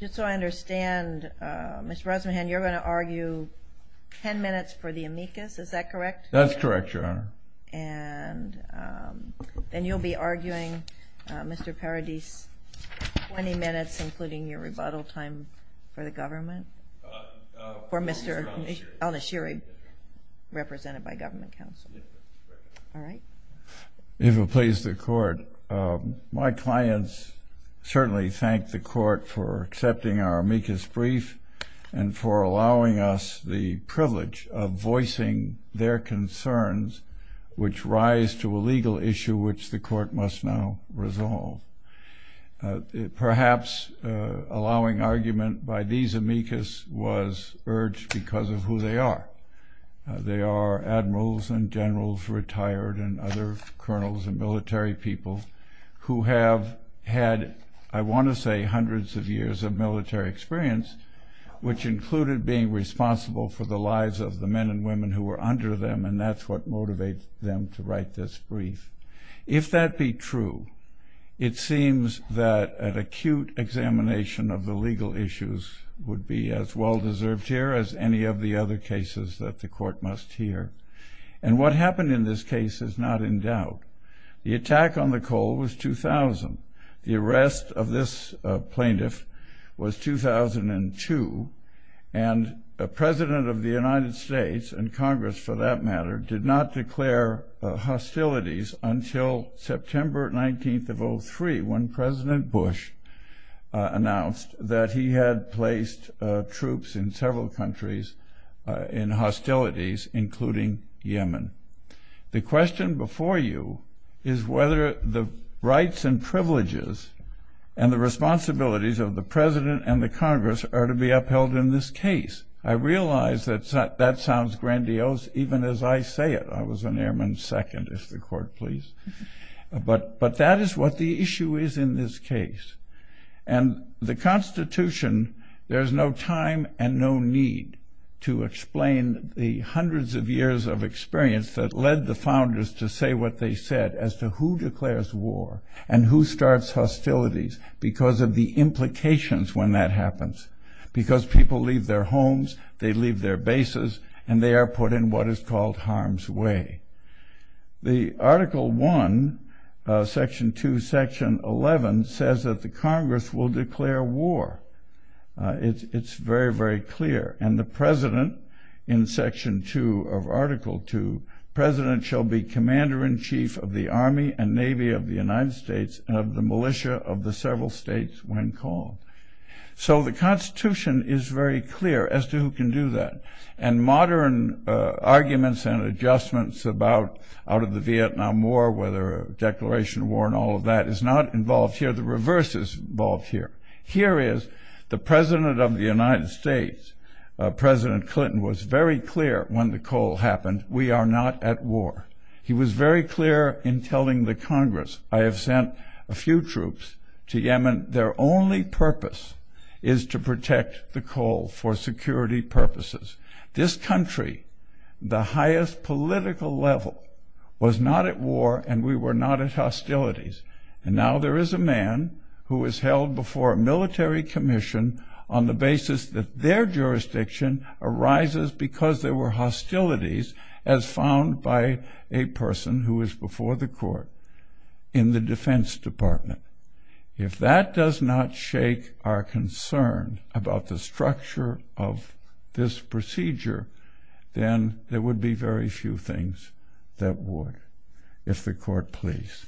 Just so I understand, Mr. Rosmahan, you're going to argue 10 minutes for the amicus, is that correct? That's correct, Your Honor. And then you'll be arguing, Mr. Paradis, 20 minutes, including your rebuttal time for the government? For Mr. Al-Nashiri, represented by government counsel. All right. If it pleases the Court, my clients certainly thank the Court for accepting our amicus brief and for allowing us the privilege of voicing their concerns, which rise to a legal issue which the Court must now resolve. Perhaps allowing argument by these amicus was urged because of who they are. They are admirals and generals retired and other colonels and military people who have had, I want to say, hundreds of years of military experience, which included being responsible for the lives of the men and women who were under them, and that's what motivates them to write this brief. If that be true, it seems that an acute examination of the legal issues would be as well deserved here as any of the other cases that the Court must hear. And what happened in this case is not in doubt. The attack on the coal was 2000. The arrest of this plaintiff was 2002. And the President of the United States and Congress, for that matter, did not declare hostilities until September 19th of 03, when President Bush announced that he had placed troops in several countries in hostilities, including Yemen. The question before you is whether the rights and privileges and the responsibilities of the President and the Congress are to be upheld in this case. I realize that that sounds grandiose even as I say it. I was an airman's second, if the Court please. But that is what the issue is in this case. And the Constitution, there's no time and no need to explain the hundreds of years of experience that led the founders to say what they said as to who declares war and who starts hostilities because of the implications when that happens. Because people leave their homes, they leave their bases, and they are put in what is called harm's way. The Article 1, Section 2, Section 11 says that the Congress will declare war. It's very, very clear. And the President, in Section 2 of Article 2, President shall be Commander-in-Chief of the Army and Navy of the United States and of the militia of the several states when called. So the Constitution is very clear as to who can do that. And modern arguments and adjustments about out of the Vietnam War, whether a declaration of war and all of that is not involved here. The reverse is involved here. Here is the President of the United States, President Clinton, was very clear when the call happened, we are not at war. He was very clear in telling the Congress, I have sent a few troops to Yemen. Their only purpose is to protect the call for security purposes. This country, the highest political level, was not at war, and we were not at hostilities. And now there is a man who is held before a military commission on the basis that their jurisdiction arises because there were hostilities as found by a person who is before the court in the Defense Department. If that does not shake our concern about the structure of this procedure, then there would be very few things that would, if the court pleased.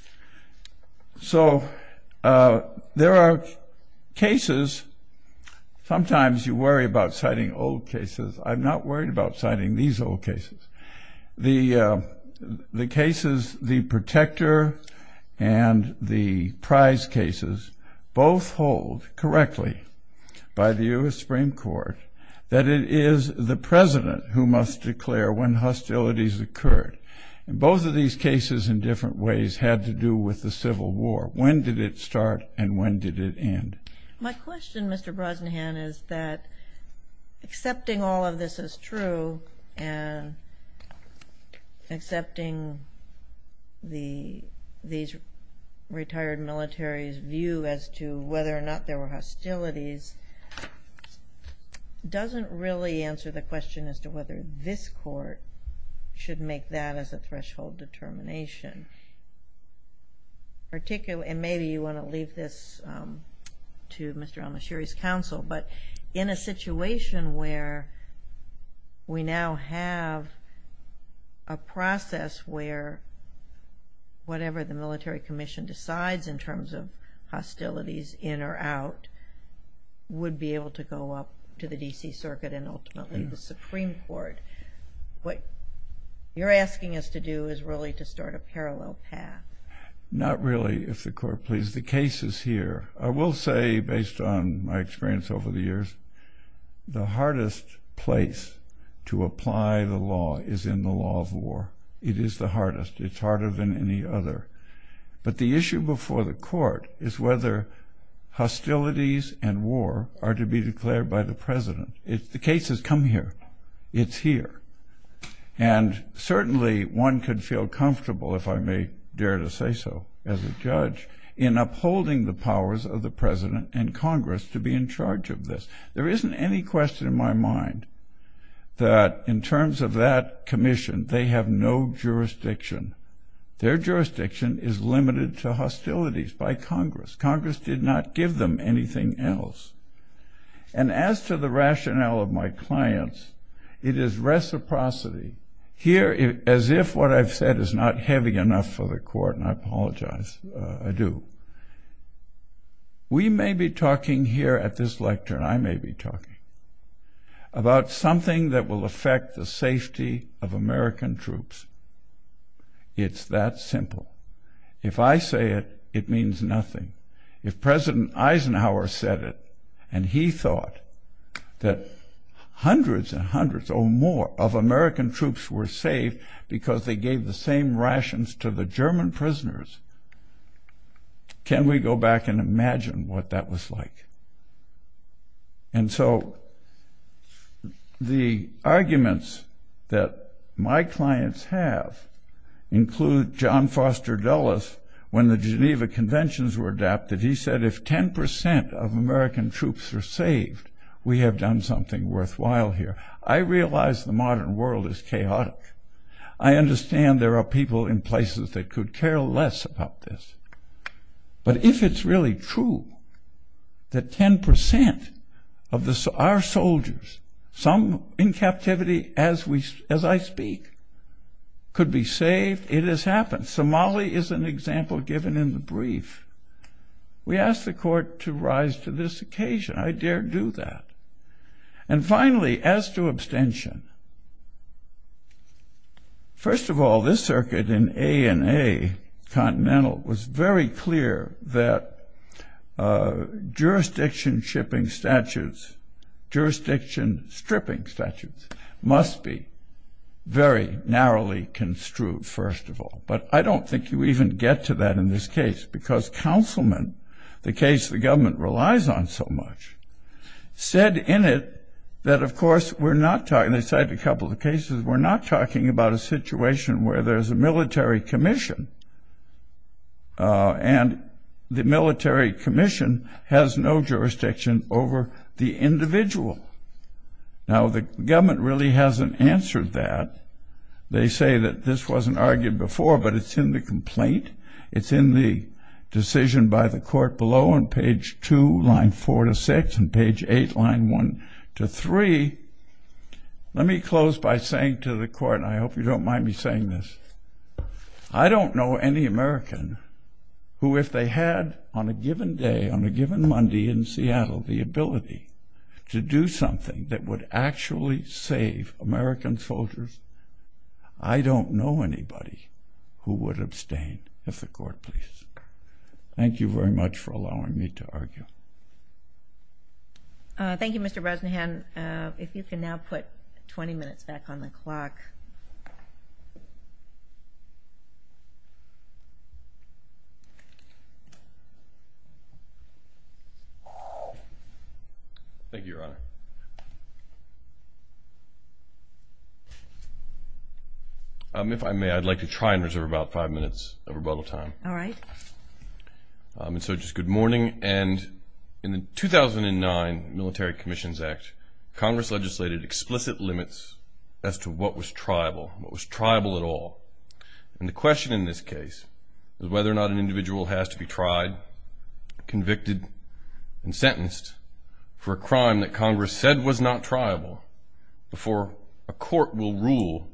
So there are cases, sometimes you worry about citing old cases. I'm not worried about citing these old cases. The cases, the protector and the prize cases, both hold correctly by the U.S. Supreme Court that it is the President who must declare when hostilities occurred. Both of these cases in different ways had to do with the Civil War. When did it start and when did it end? My question, Mr. Brosnahan, is that accepting all of this is true and accepting these retired militaries' view as to whether or not there were hostilities doesn't really answer the question as to whether this court should make that as a threshold determination. Maybe you want to leave this to Mr. Al-Mashiri's counsel, but in a situation where we now have a process where whatever the military commission decides in terms of hostilities in or out would be able to go up to the D.C. Circuit and ultimately the Supreme Court. What you're asking us to do is really to start a parallel path. Not really, if the Court pleases. The case is here. I will say, based on my experience over the years, the hardest place to apply the law is in the law of war. It is the hardest. It's harder than any other. But the issue before the Court is whether hostilities and war are to be declared by the President. The case has come here. It's here. And certainly one could feel comfortable, if I may dare to say so as a judge, in upholding the powers of the President and Congress to be in charge of this. There isn't any question in my mind that in terms of that commission, they have no jurisdiction. Their jurisdiction is limited to hostilities by Congress. Congress did not give them anything else. And as to the rationale of my clients, it is reciprocity. Here, as if what I've said is not heavy enough for the Court, and I apologize, I do, we may be talking here at this lecture, and I may be talking, about something that will affect the safety of American troops. It's that simple. If I say it, it means nothing. If President Eisenhower said it, and he thought that hundreds and hundreds or more of American troops were saved because they gave the same rations to the German prisoners, can we go back and imagine what that was like? And so the arguments that my clients have include John Foster Dulles, when the Geneva Conventions were adapted, he said, if 10% of American troops are saved, we have done something worthwhile here. I realize the modern world is chaotic. I understand there are people in places that could care less about this. But if it's really true that 10% of our soldiers, some in captivity as I speak, could be saved, it has happened. And Somali is an example given in the brief. We ask the Court to rise to this occasion. I dare do that. And finally, as to abstention, first of all, this circuit in A&A, Continental, was very clear that jurisdiction-shipping statutes, jurisdiction-stripping statutes, must be very narrowly construed, first of all. But I don't think you even get to that in this case, because Councilman, the case the government relies on so much, said in it that, of course, we're not talking, they cited a couple of cases, we're not talking about a situation where there's a military commission, and the military commission has no jurisdiction over the individual. Now, the government really hasn't answered that. They say that this wasn't argued before, but it's in the complaint, it's in the decision by the Court below on page 2, line 4 to 6, and page 8, line 1 to 3. Let me close by saying to the Court, and I hope you don't mind me saying this, I don't know any American who, if they had, on a given day, on a given Monday in Seattle, the ability to do something that would actually save American soldiers, I don't know anybody who would abstain, if the Court pleases. Thank you very much for allowing me to argue. Thank you, Mr. Rosenhan. If you can now put 20 minutes back on the clock. Thank you, Your Honor. If I may, I'd like to try and reserve about five minutes of rebuttal time. All right. And so just good morning. And in the 2009 Military Commissions Act, Congress legislated explicit limits as to what was triable, what was triable at all. And the question in this case is whether or not an individual has to be tried, convicted, and sentenced for a crime that Congress said was not triable before a court will rule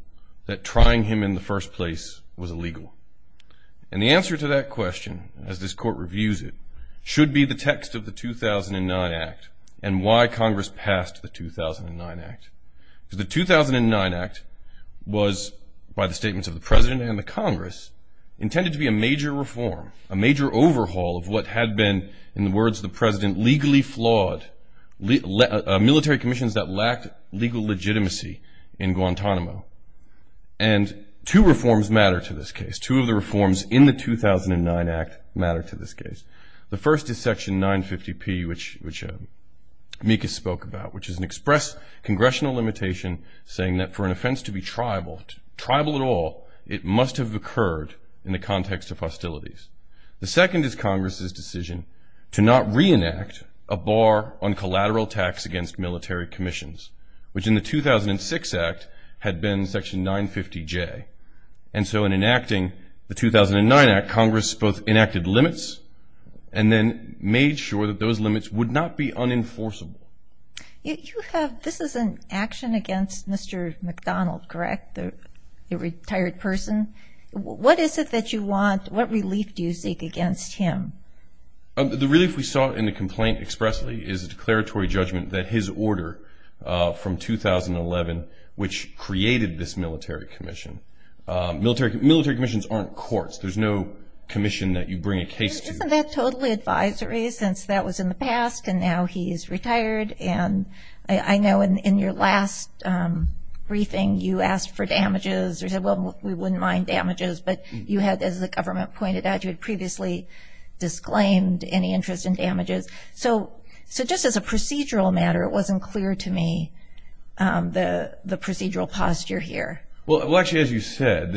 that trying him in the first place was illegal. And the answer to that question, as this Court reviews it, should be the text of the 2009 Act and why Congress passed the 2009 Act. The 2009 Act was, by the statements of the President and the Congress, intended to be a major reform, a major overhaul of what had been, in the words of the President, legally flawed military commissions that lacked legal legitimacy in Guantanamo. And two reforms matter to this case. Two of the reforms in the 2009 Act matter to this case. The first is Section 950P, which Mikas spoke about, which is an express congressional limitation saying that for an offense to be triable, triable at all, it must have occurred in the context of hostilities. The second is Congress's decision to not reenact a bar on collateral tax against military commissions, which in the 2006 Act had been Section 950J. And so in enacting the 2009 Act, Congress both enacted limits and then made sure that those limits would not be unenforceable. You have – this is an action against Mr. McDonald, correct, the retired person? What is it that you want – what relief do you seek against him? The relief we sought in the complaint expressly is a declaratory judgment that his order from 2011, which created this military commission. Military commissions aren't courts. There's no commission that you bring a case to. Isn't that totally advisory since that was in the past and now he's retired? And I know in your last briefing you asked for damages or said, well, we wouldn't mind damages, but you had, as the government pointed out, you had previously disclaimed any interest in damages. So just as a procedural matter, it wasn't clear to me the procedural posture here. Well, actually, as you said,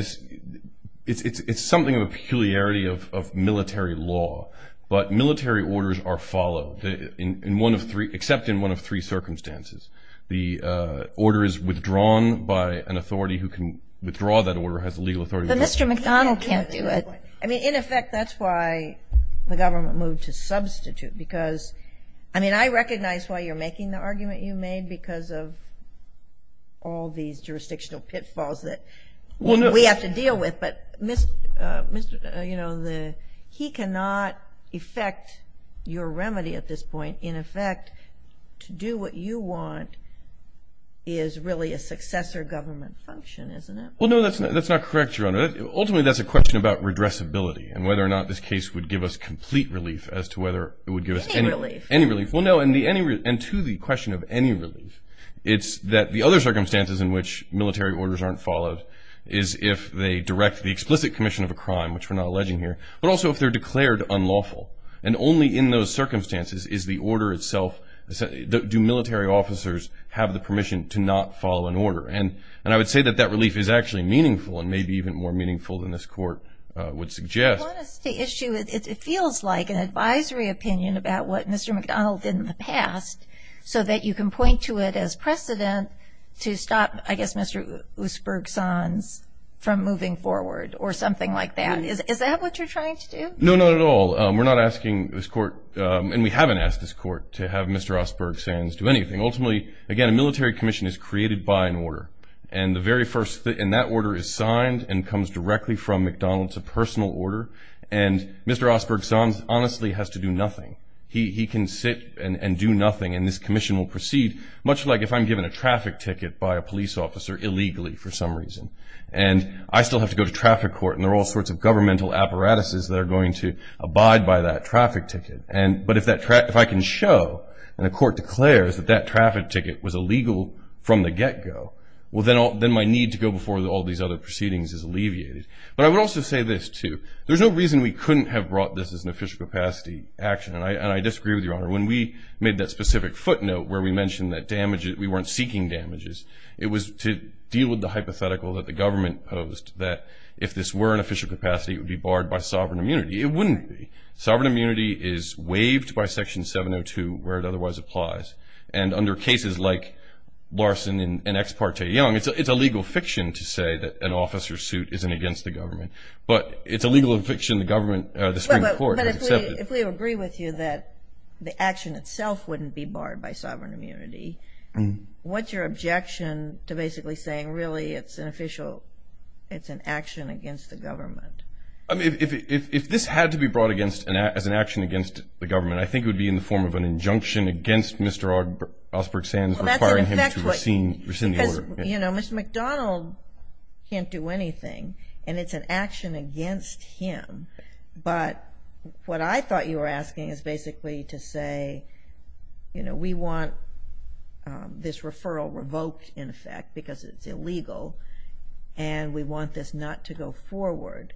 it's something of a peculiarity of military law, but military orders are followed in one of three – except in one of three circumstances. The order is withdrawn by an authority who can withdraw that order, has the legal authority. But Mr. McDonald can't do it. I mean, in effect, that's why the government moved to substitute because, I mean, I recognize why you're making the argument you made because of all these jurisdictional pitfalls that we have to deal with. But, you know, he cannot effect your remedy at this point. In effect, to do what you want is really a successor government function, isn't it? Ultimately, that's a question about redressability and whether or not this case would give us complete relief as to whether it would give us any relief. Well, no, and to the question of any relief, it's that the other circumstances in which military orders aren't followed is if they direct the explicit commission of a crime, which we're not alleging here, but also if they're declared unlawful. And only in those circumstances is the order itself – do military officers have the permission to not follow an order. And I would say that that relief is actually meaningful and maybe even more meaningful than this court would suggest. I want to stay issue. It feels like an advisory opinion about what Mr. McDonald did in the past so that you can point to it as precedent to stop, I guess, Mr. Oosberg-Sanz from moving forward or something like that. Is that what you're trying to do? No, not at all. We're not asking this court, and we haven't asked this court, to have Mr. Oosberg-Sanz do anything. Ultimately, again, a military commission is created by an order, and that order is signed and comes directly from McDonald's, a personal order, and Mr. Oosberg-Sanz honestly has to do nothing. He can sit and do nothing, and this commission will proceed, much like if I'm given a traffic ticket by a police officer illegally for some reason, and I still have to go to traffic court, and there are all sorts of governmental apparatuses that are going to abide by that traffic ticket. But if I can show, and the court declares, that that traffic ticket was illegal from the get-go, well, then my need to go before all these other proceedings is alleviated. But I would also say this, too. There's no reason we couldn't have brought this as an official capacity action, and I disagree with you, Your Honor. When we made that specific footnote where we mentioned that we weren't seeking damages, it was to deal with the hypothetical that the government posed that if this were an official capacity, it would be barred by sovereign immunity. It wouldn't be. Sovereign immunity is waived by Section 702 where it otherwise applies, and under cases like Larson and Ex parte Young, it's a legal fiction to say that an officer's suit isn't against the government, but it's a legal fiction the Supreme Court has accepted. But if we agree with you that the action itself wouldn't be barred by sovereign immunity, what's your objection to basically saying really it's an action against the government? If this had to be brought as an action against the government, I think it would be in the form of an injunction against Mr. Osberg Sands requiring him to rescind the order. Because, you know, Mr. McDonald can't do anything, and it's an action against him. But what I thought you were asking is basically to say, you know, we want this referral revoked, in effect, because it's illegal, and we want this not to go forward.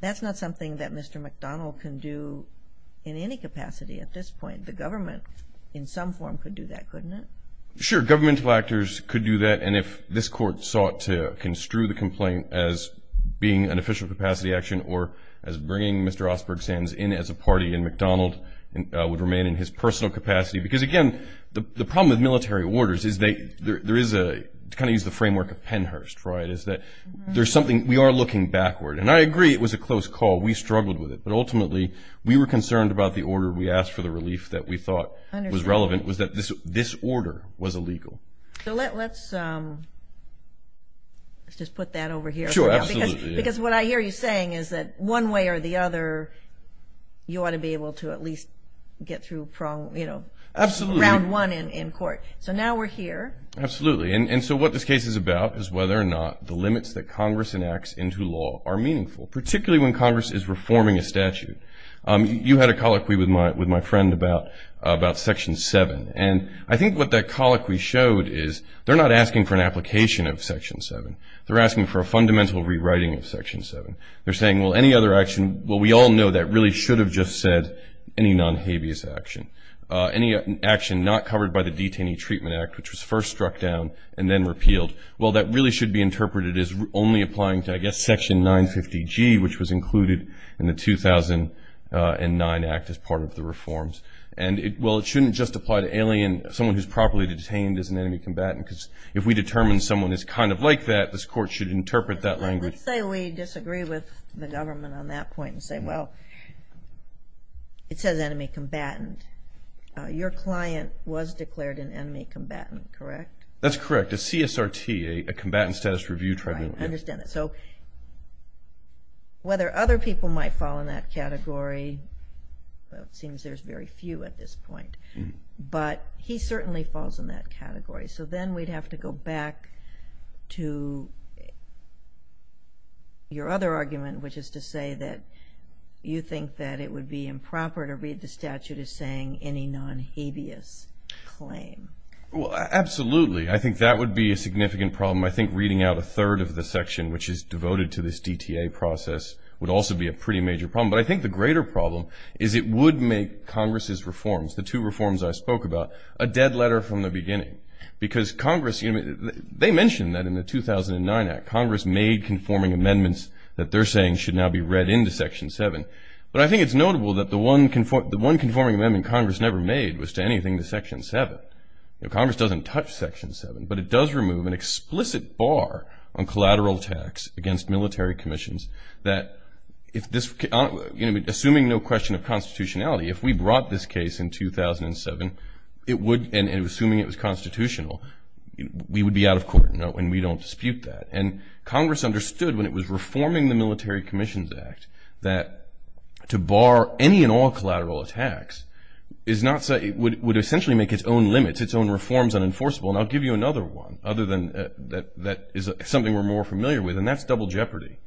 That's not something that Mr. McDonald can do in any capacity at this point. The government in some form could do that, couldn't it? Sure, governmental actors could do that, and if this Court sought to construe the complaint as being an official capacity action or as bringing Mr. Osberg Sands in as a party, and McDonald would remain in his personal capacity. Because, again, the problem with military orders is there is a kind of use the framework of Pennhurst, right, is that there's something we are looking backward, and I agree it was a close call. We struggled with it, but ultimately we were concerned about the order. We asked for the relief that we thought was relevant, was that this order was illegal. So let's just put that over here. Sure, absolutely. Because what I hear you saying is that one way or the other, you ought to be able to at least get through, you know, round one in court. So now we're here. Absolutely. And so what this case is about is whether or not the limits that Congress enacts into law are meaningful, particularly when Congress is reforming a statute. You had a colloquy with my friend about Section 7, and I think what that colloquy showed is they're not asking for an application of Section 7. They're asking for a fundamental rewriting of Section 7. They're saying, well, any other action, well, we all know that really should have just said any non-habeas action, any action not covered by the Detainee Treatment Act, which was first struck down and then repealed. Well, that really should be interpreted as only applying to, I guess, Section 950G, which was included in the 2009 Act as part of the reforms. And, well, it shouldn't just apply to alien, someone who's properly detained as an enemy combatant, because if we determine someone is kind of like that, this court should interpret that language. Let's say we disagree with the government on that point and say, well, it says enemy combatant. Your client was declared an enemy combatant, correct? That's correct. It's CSRT, a Combatant Status Review Tribunal. Right, I understand that. So whether other people might fall in that category, well, it seems there's very few at this point, but he certainly falls in that category. So then we'd have to go back to your other argument, which is to say that you think that it would be improper to read the statute as saying any non-habeas claim. Well, absolutely. I think that would be a significant problem. I think reading out a third of the section, which is devoted to this DTA process, would also be a pretty major problem. But I think the greater problem is it would make Congress's reforms, the two reforms I spoke about, a dead letter from the beginning. Because Congress, they mentioned that in the 2009 Act, Congress made conforming amendments that they're saying should now be read into Section 7. But I think it's notable that the one conforming amendment Congress never made was to anything to Section 7. Congress doesn't touch Section 7, but it does remove an explicit bar on collateral tax against military commissions that, assuming no question of constitutionality, if we brought this case in 2007 and assuming it was constitutional, we would be out of court and we don't dispute that. And Congress understood when it was reforming the Military Commissions Act that to bar any and all collateral tax would essentially make its own limits, its own reforms unenforceable. And I'll give you another one that is something we're more familiar with, and that's double jeopardy.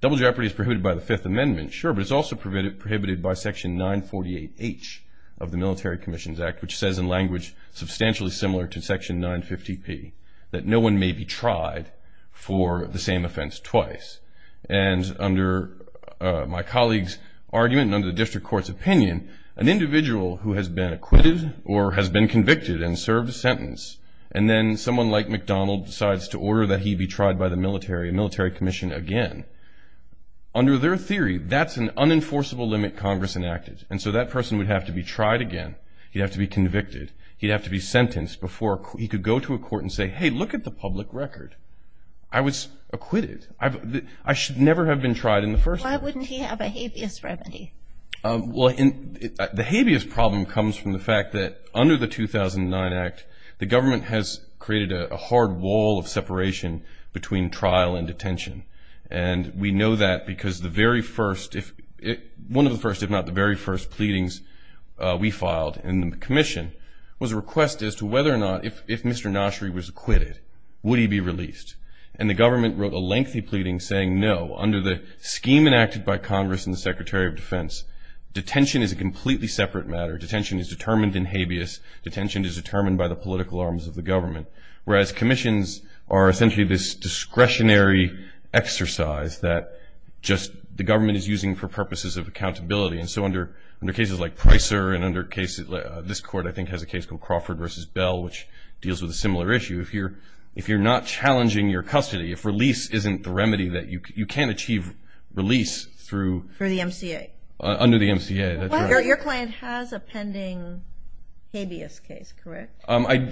Double jeopardy is prohibited by the Fifth Amendment, sure, but it's also prohibited by Section 948H of the Military Commissions Act, which says in language substantially similar to Section 950P, that no one may be tried for the same offense twice. And under my colleague's argument and under the district court's opinion, an individual who has been acquitted or has been convicted and served a sentence, and then someone like McDonald decides to order that he be tried by the military, a military commission again, under their theory, that's an unenforceable limit Congress enacted. And so that person would have to be tried again. He'd have to be convicted. He'd have to be sentenced before he could go to a court and say, hey, look at the public record. I was acquitted. I should never have been tried in the first place. Why wouldn't he have a habeas remedy? Well, the habeas problem comes from the fact that under the 2009 Act, the government has created a hard wall of separation between trial and detention. And we know that because one of the first, if not the very first, pleadings we filed in the commission was a request as to whether or not, if Mr. Noshery was acquitted, would he be released. And the government wrote a lengthy pleading saying no. Under the scheme enacted by Congress and the Secretary of Defense, detention is a completely separate matter. Detention is determined in habeas. Detention is determined by the political arms of the government. Whereas commissions are essentially this discretionary exercise that just the government is using for purposes of accountability. And so under cases like Pricer and under cases, this court I think has a case called Crawford v. Bell, which deals with a similar issue. If you're not challenging your custody, if release isn't the remedy, you can't achieve release through. Through the MCA. Under the MCA. Your client has a pending habeas case, correct?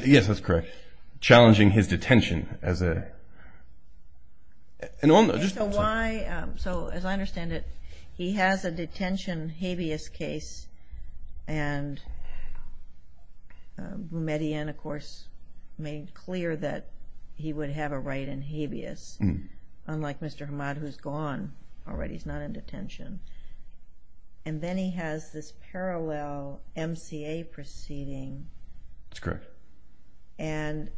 Yes, that's correct. Challenging his detention as a. So as I understand it, he has a detention habeas case. And Median, of course, made clear that he would have a right in habeas. Unlike Mr. Hamad, who's gone already. He's not in detention. And then he has this parallel MCA proceeding. That's correct. And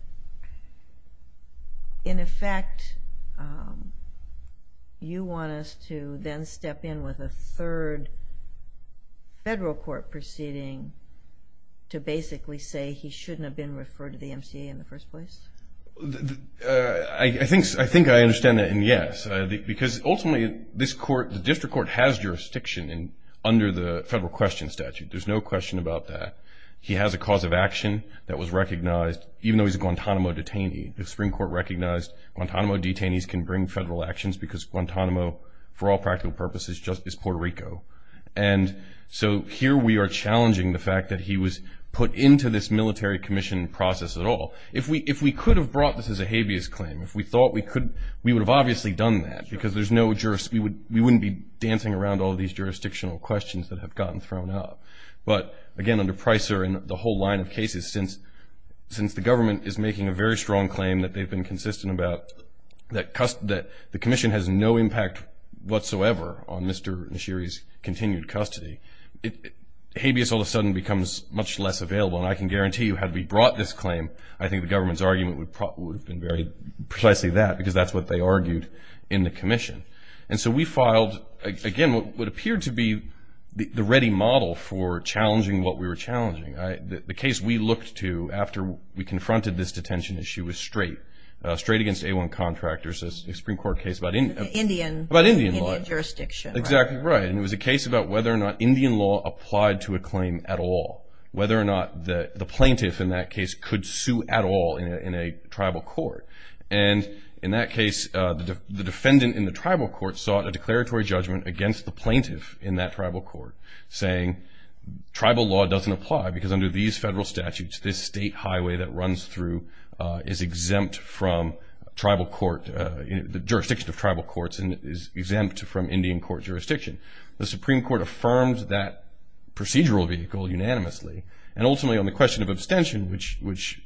in effect, you want us to then step in with a third federal court proceeding to basically say he shouldn't have been referred to the MCA in the first place? I think I understand that, and yes. Because ultimately this court, the district court, has jurisdiction under the federal question statute. There's no question about that. He has a cause of action that was recognized, even though he's a Guantanamo detainee. The Supreme Court recognized Guantanamo detainees can bring federal actions because Guantanamo, for all practical purposes, just is Puerto Rico. And so here we are challenging the fact that he was put into this military commission process at all. If we could have brought this as a habeas claim, if we thought we could, we would have obviously done that. Because we wouldn't be dancing around all these jurisdictional questions that have gotten thrown up. But, again, under Pricer and the whole line of cases, since the government is making a very strong claim that they've been consistent about, that the commission has no impact whatsoever on Mr. Nishiri's continued custody, habeas all of a sudden becomes much less available. And I can guarantee you had we brought this claim, I think the government's argument would have been very precisely that, because that's what they argued in the commission. And so we filed, again, what appeared to be the ready model for challenging what we were challenging. The case we looked to after we confronted this detention issue was straight, straight against A1 contractors, a Supreme Court case about Indian law. About Indian jurisdiction. Exactly right. And it was a case about whether or not Indian law applied to a claim at all, whether or not the plaintiff in that case could sue at all in a tribal court. And in that case, the defendant in the tribal court sought a declaratory judgment against the plaintiff in that tribal court, saying tribal law doesn't apply because under these federal statutes, this state highway that runs through is exempt from tribal court, the jurisdiction of tribal courts, and is exempt from Indian court jurisdiction. The Supreme Court affirmed that procedural vehicle unanimously. And ultimately on the question of abstention, which was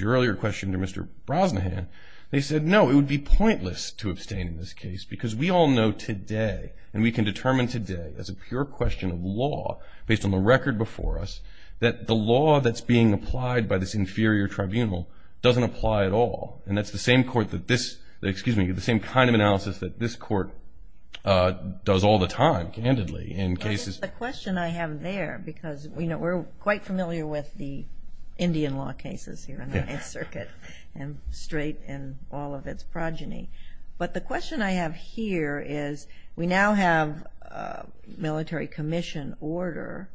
your earlier question to Mr. Brosnahan, they said no, it would be pointless to abstain in this case because we all know today, and we can determine today as a pure question of law based on the record before us, that the law that's being applied by this inferior tribunal doesn't apply at all. And that's the same kind of analysis that this court does all the time, candidly, in cases. The question I have there, because, you know, we're quite familiar with the Indian law cases here in the Ninth Circuit, and straight in all of its progeny. But the question I have here is we now have military commission order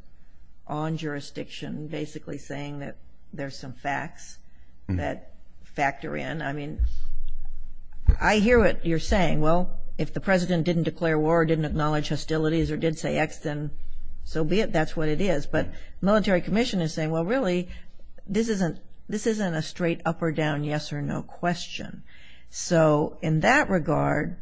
on jurisdiction, basically saying that there's some facts that factor in. I mean, I hear what you're saying. Well, if the President didn't declare war or didn't acknowledge hostilities or did say X, then so be it, that's what it is. But military commission is saying, well, really, this isn't a straight up or down yes or no question. So in that regard,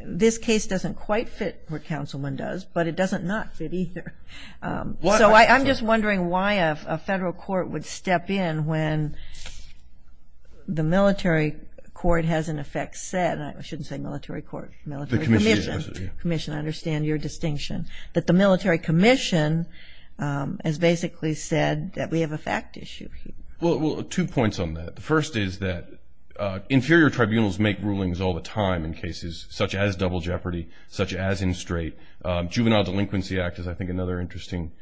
this case doesn't quite fit what Councilman does, but it doesn't not fit either. So I'm just wondering why a federal court would step in when the military court has, in effect, said, and I shouldn't say military court, military commission, I understand your distinction, that the military commission has basically said that we have a fact issue here. Well, two points on that. The first is that inferior tribunals make rulings all the time in cases such as double jeopardy, such as in straight. Juvenile Delinquency Act is, I think, another interesting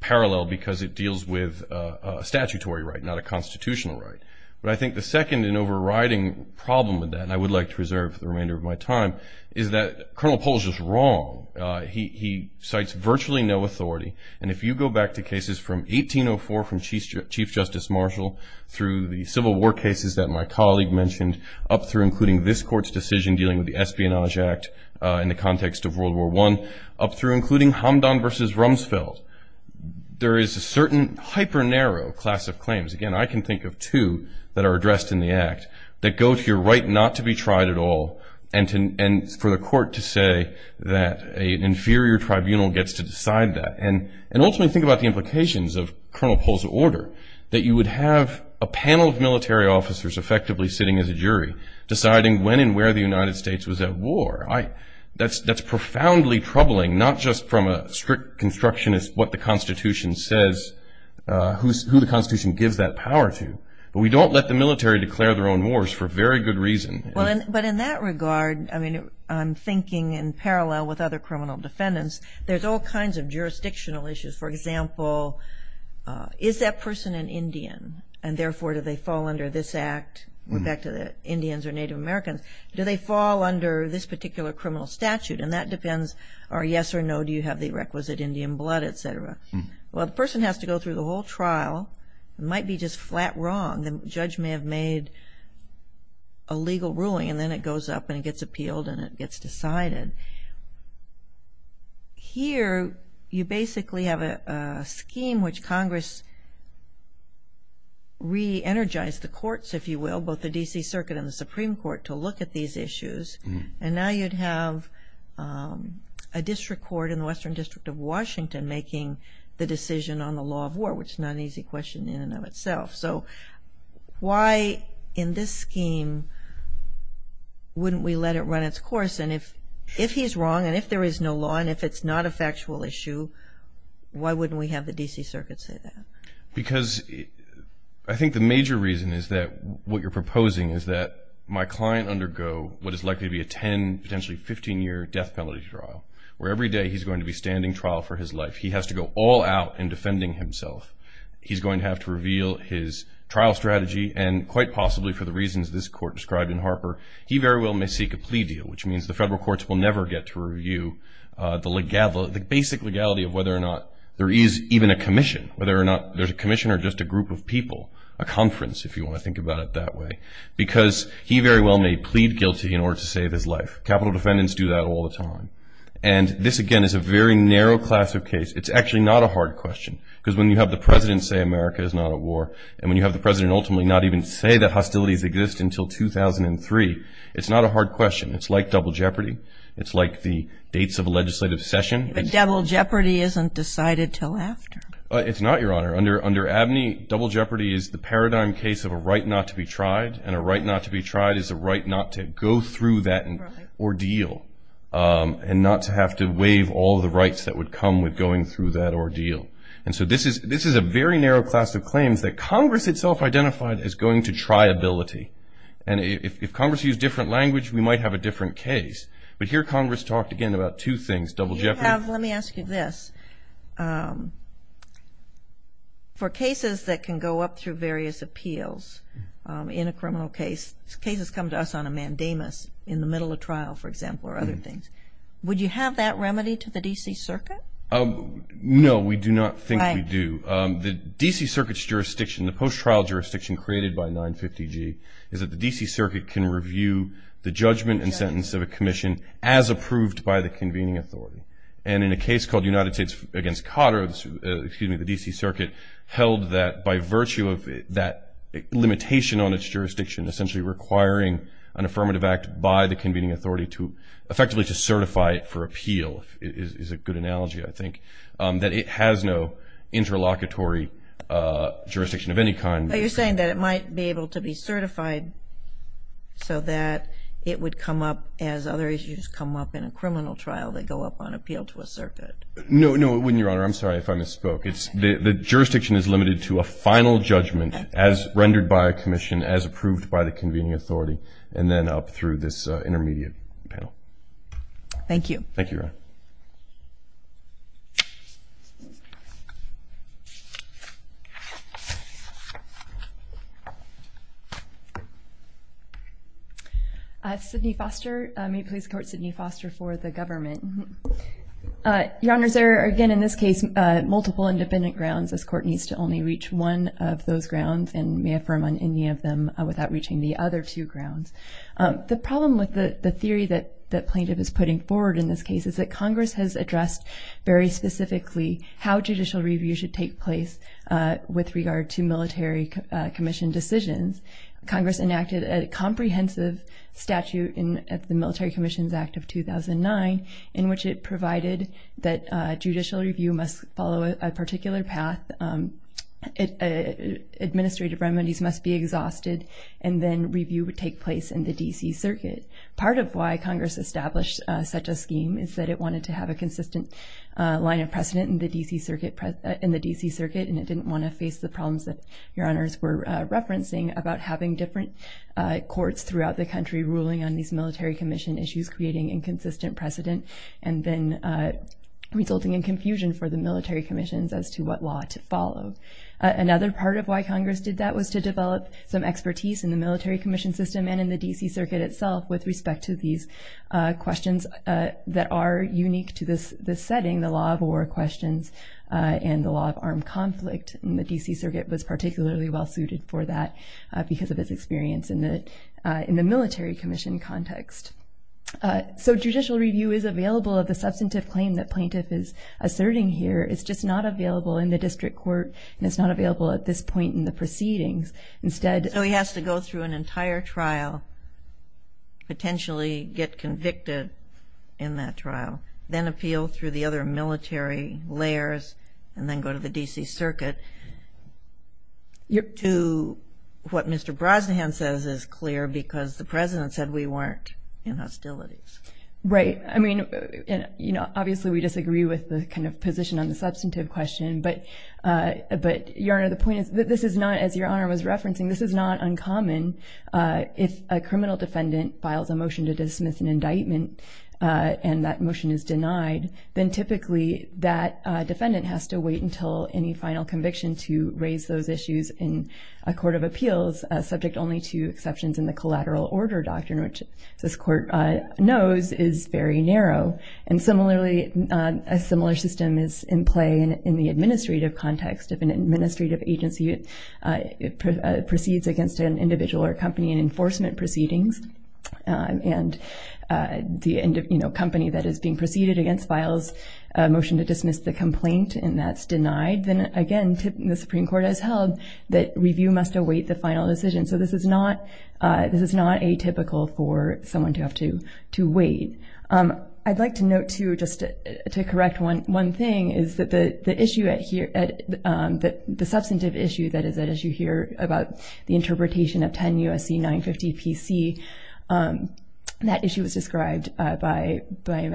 parallel because it deals with a statutory right, not a constitutional right. But I think the second and overriding problem with that, and I would like to reserve the remainder of my time, is that Colonel Polge is wrong. He cites virtually no authority. And if you go back to cases from 1804 from Chief Justice Marshall through the Civil War cases that my colleague mentioned up through including this court's decision dealing with the Espionage Act in the context of World War I, up through including Hamdan v. Rumsfeld, there is a certain hyper-narrow class of claims. Again, I can think of two that are addressed in the act that go to your right not to be tried at all and for the court to say that an inferior tribunal gets to decide that. And ultimately, think about the implications of Colonel Polge's order, that you would have a panel of military officers effectively sitting as a jury, deciding when and where the United States was at war. That's profoundly troubling, not just from a strict constructionist, what the Constitution says, who the Constitution gives that power to. But we don't let the military declare their own wars for very good reason. But in that regard, I'm thinking in parallel with other criminal defendants, there's all kinds of jurisdictional issues. For example, is that person an Indian, and therefore do they fall under this act? We're back to the Indians or Native Americans. Do they fall under this particular criminal statute? And that depends, or yes or no, do you have the requisite Indian blood, et cetera. Well, the person has to go through the whole trial. It might be just flat wrong. The judge may have made a legal ruling and then it goes up and it gets appealed and it gets decided. Here, you basically have a scheme which Congress re-energized the courts, if you will, both the D.C. Circuit and the Supreme Court to look at these issues. And now you'd have a district court in the Western District of Washington making the decision on the law of war, which is not an easy question in and of itself. So why in this scheme wouldn't we let it run its course? And if he's wrong and if there is no law and if it's not a factual issue, why wouldn't we have the D.C. Circuit say that? Because I think the major reason is that what you're proposing is that my client undergo what is likely to be a 10, potentially 15-year death penalty trial, where every day he's going to be standing trial for his life. He has to go all out in defending himself. He's going to have to reveal his trial strategy, and quite possibly for the reasons this Court described in Harper, he very well may seek a plea deal, which means the federal courts will never get to review the basic legality of whether or not there is even a commission, whether or not there's a commission or just a group of people, a conference if you want to think about it that way, because he very well may plead guilty in order to save his life. Capital defendants do that all the time. And this, again, is a very narrow class of case. It's actually not a hard question because when you have the president say America is not at war and when you have the president ultimately not even say that hostilities exist until 2003, it's not a hard question. It's like double jeopardy. It's like the dates of a legislative session. But double jeopardy isn't decided until after. It's not, Your Honor. Under Abney, double jeopardy is the paradigm case of a right not to be tried, and a right not to be tried is a right not to go through that ordeal and not to have to waive all the rights that would come with going through that ordeal. And so this is a very narrow class of claims that Congress itself identified as going to triability. And if Congress used different language, we might have a different case. But here Congress talked, again, about two things, double jeopardy. Let me ask you this. For cases that can go up through various appeals in a criminal case, cases come to us on a mandamus in the middle of trial, for example, or other things, would you have that remedy to the D.C. Circuit? No, we do not think we do. The D.C. Circuit's jurisdiction, the post-trial jurisdiction created by 950G, is that the D.C. Circuit can review the judgment and sentence of a commission as approved by the convening authority. And in a case called United States v. Cotter, the D.C. Circuit held that by virtue of that limitation on its jurisdiction, essentially requiring an affirmative act by the convening authority effectively to certify it for appeal is a good analogy, I think, that it has no interlocutory jurisdiction of any kind. Are you saying that it might be able to be certified so that it would come up as other issues come up in a criminal trial that go up on appeal to a circuit? No, it wouldn't, Your Honor. I'm sorry if I misspoke. The jurisdiction is limited to a final judgment as rendered by a commission, as approved by the convening authority, and then up through this intermediate panel. Thank you. Thank you, Your Honor. Sidney Foster. May it please the Court, Sidney Foster for the government. Your Honors, there are, again, in this case, multiple independent grounds. This Court needs to only reach one of those grounds and may affirm on any of them without reaching the other two grounds. The problem with the theory that plaintiff is putting forward in this case is that Congress has addressed very specifically how judicial review should take place with regard to military commission decisions. Congress enacted a comprehensive statute at the Military Commissions Act of 2009 in which it provided that judicial review must follow a particular path, administrative remedies must be exhausted, and then review would take place in the D.C. Circuit. Part of why Congress established such a scheme is that it wanted to have a consistent line of precedent in the D.C. Circuit, and it didn't want to face the problems that Your Honors were referencing about having different courts throughout the country ruling on these military commission issues, creating inconsistent precedent, and then resulting in confusion for the military commissions as to what law to follow. Another part of why Congress did that was to develop some expertise in the military commission system and in the D.C. Circuit itself with respect to these questions that are unique to this setting, the law of war questions and the law of armed conflict, and the D.C. Circuit was particularly well-suited for that because of its experience in the military commission context. So judicial review is available of the substantive claim that plaintiff is asserting here. It's just not available in the district court, and it's not available at this point in the proceedings. So he has to go through an entire trial, potentially get convicted in that trial, then appeal through the other military layers, and then go to the D.C. Circuit. To what Mr. Brosnahan says is clear because the President said we weren't in hostilities. Right. I mean, you know, obviously we disagree with the kind of position on the substantive question, but Your Honor, the point is that this is not, as Your Honor was referencing, this is not uncommon. If a criminal defendant files a motion to dismiss an indictment and that motion is denied, then typically that defendant has to wait until any final conviction to raise those issues in a court of appeals, subject only to exceptions in the collateral order doctrine, which this court knows is very narrow. And similarly, a similar system is in play in the administrative context. If an administrative agency proceeds against an individual or company in enforcement proceedings, and the company that is being proceeded against files a motion to dismiss the complaint and that's denied, then again, the Supreme Court has held that review must await the final decision. So this is not atypical for someone to have to wait. I'd like to note, too, just to correct one thing, is that the issue at here, the substantive issue that is at issue here about the interpretation of 10 U.S.C. 950 PC that issue was described by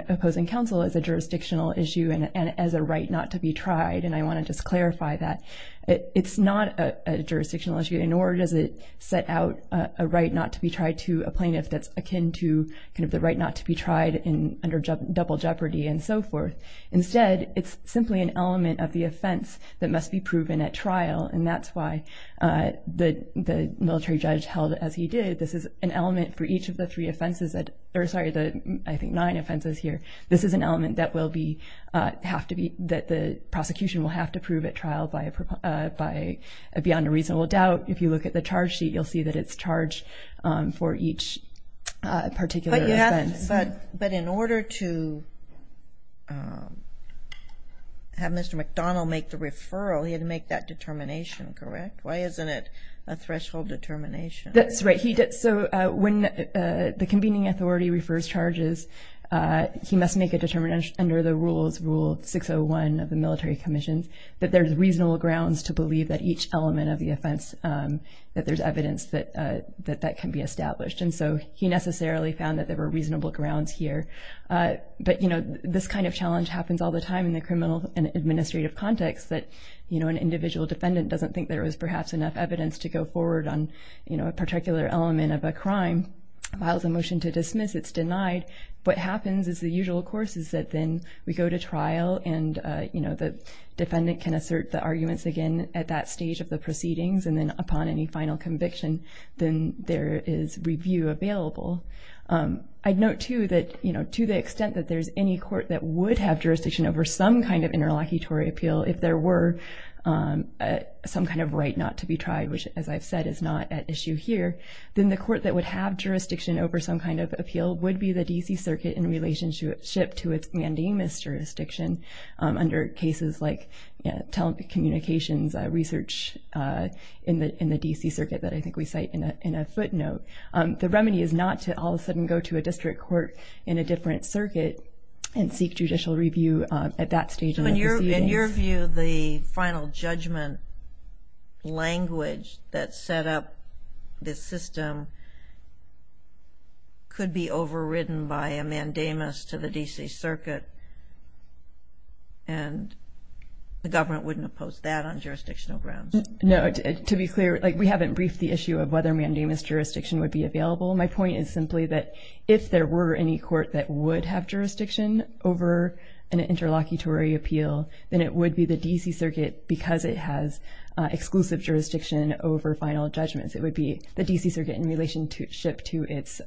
opposing counsel as a jurisdictional issue and as a right not to be tried, and I want to just clarify that. It's not a jurisdictional issue, nor does it set out a right not to be tried to a plaintiff that's akin to the right not to be tried under double jeopardy and so forth. Instead, it's simply an element of the offense that must be proven at trial, and that's why the military judge held it as he did. This is an element for each of the three offenses, or sorry, I think nine offenses here. This is an element that will be, that the prosecution will have to prove at trial beyond a reasonable doubt. If you look at the charge sheet, you'll see that it's charged for each particular offense. But in order to have Mr. McDonald make the referral, he had to make that determination, correct? Why isn't it a threshold determination? That's right. So when the convening authority refers charges, he must make a determination under the rules, Rule 601 of the military commission, that there's reasonable grounds to believe that each element of the offense, that there's evidence that that can be established. And so he necessarily found that there were reasonable grounds here. But, you know, this kind of challenge happens all the time in the criminal and administrative context, that, you know, an individual defendant doesn't think there is perhaps enough evidence to go forward on, you know, a particular element of a crime. Files a motion to dismiss, it's denied. What happens is the usual course is that then we go to trial, and, you know, the defendant can assert the arguments again at that stage of the proceedings, and then upon any final conviction, then there is review available. I'd note, too, that, you know, to the extent that there's any court that would have jurisdiction over some kind of interlocutory appeal, if there were some kind of right not to be tried, which, as I've said, is not at issue here, then the court that would have jurisdiction over some kind of appeal would be the D.C. Circuit in relationship to its mandamus jurisdiction under cases like telecommunications research in the D.C. Circuit that I think we cite in a footnote. The remedy is not to all of a sudden go to a district court in a different circuit and seek judicial review at that stage in the proceedings. In your view, the final judgment language that set up this system could be overridden by a mandamus to the D.C. Circuit, and the government wouldn't oppose that on jurisdictional grounds. No. To be clear, like, we haven't briefed the issue of whether mandamus jurisdiction would be available. My point is simply that if there were any court that would have jurisdiction over an interlocutory appeal, then it would be the D.C. Circuit because it has exclusive jurisdiction over final judgments. It would be the D.C. Circuit in relationship to its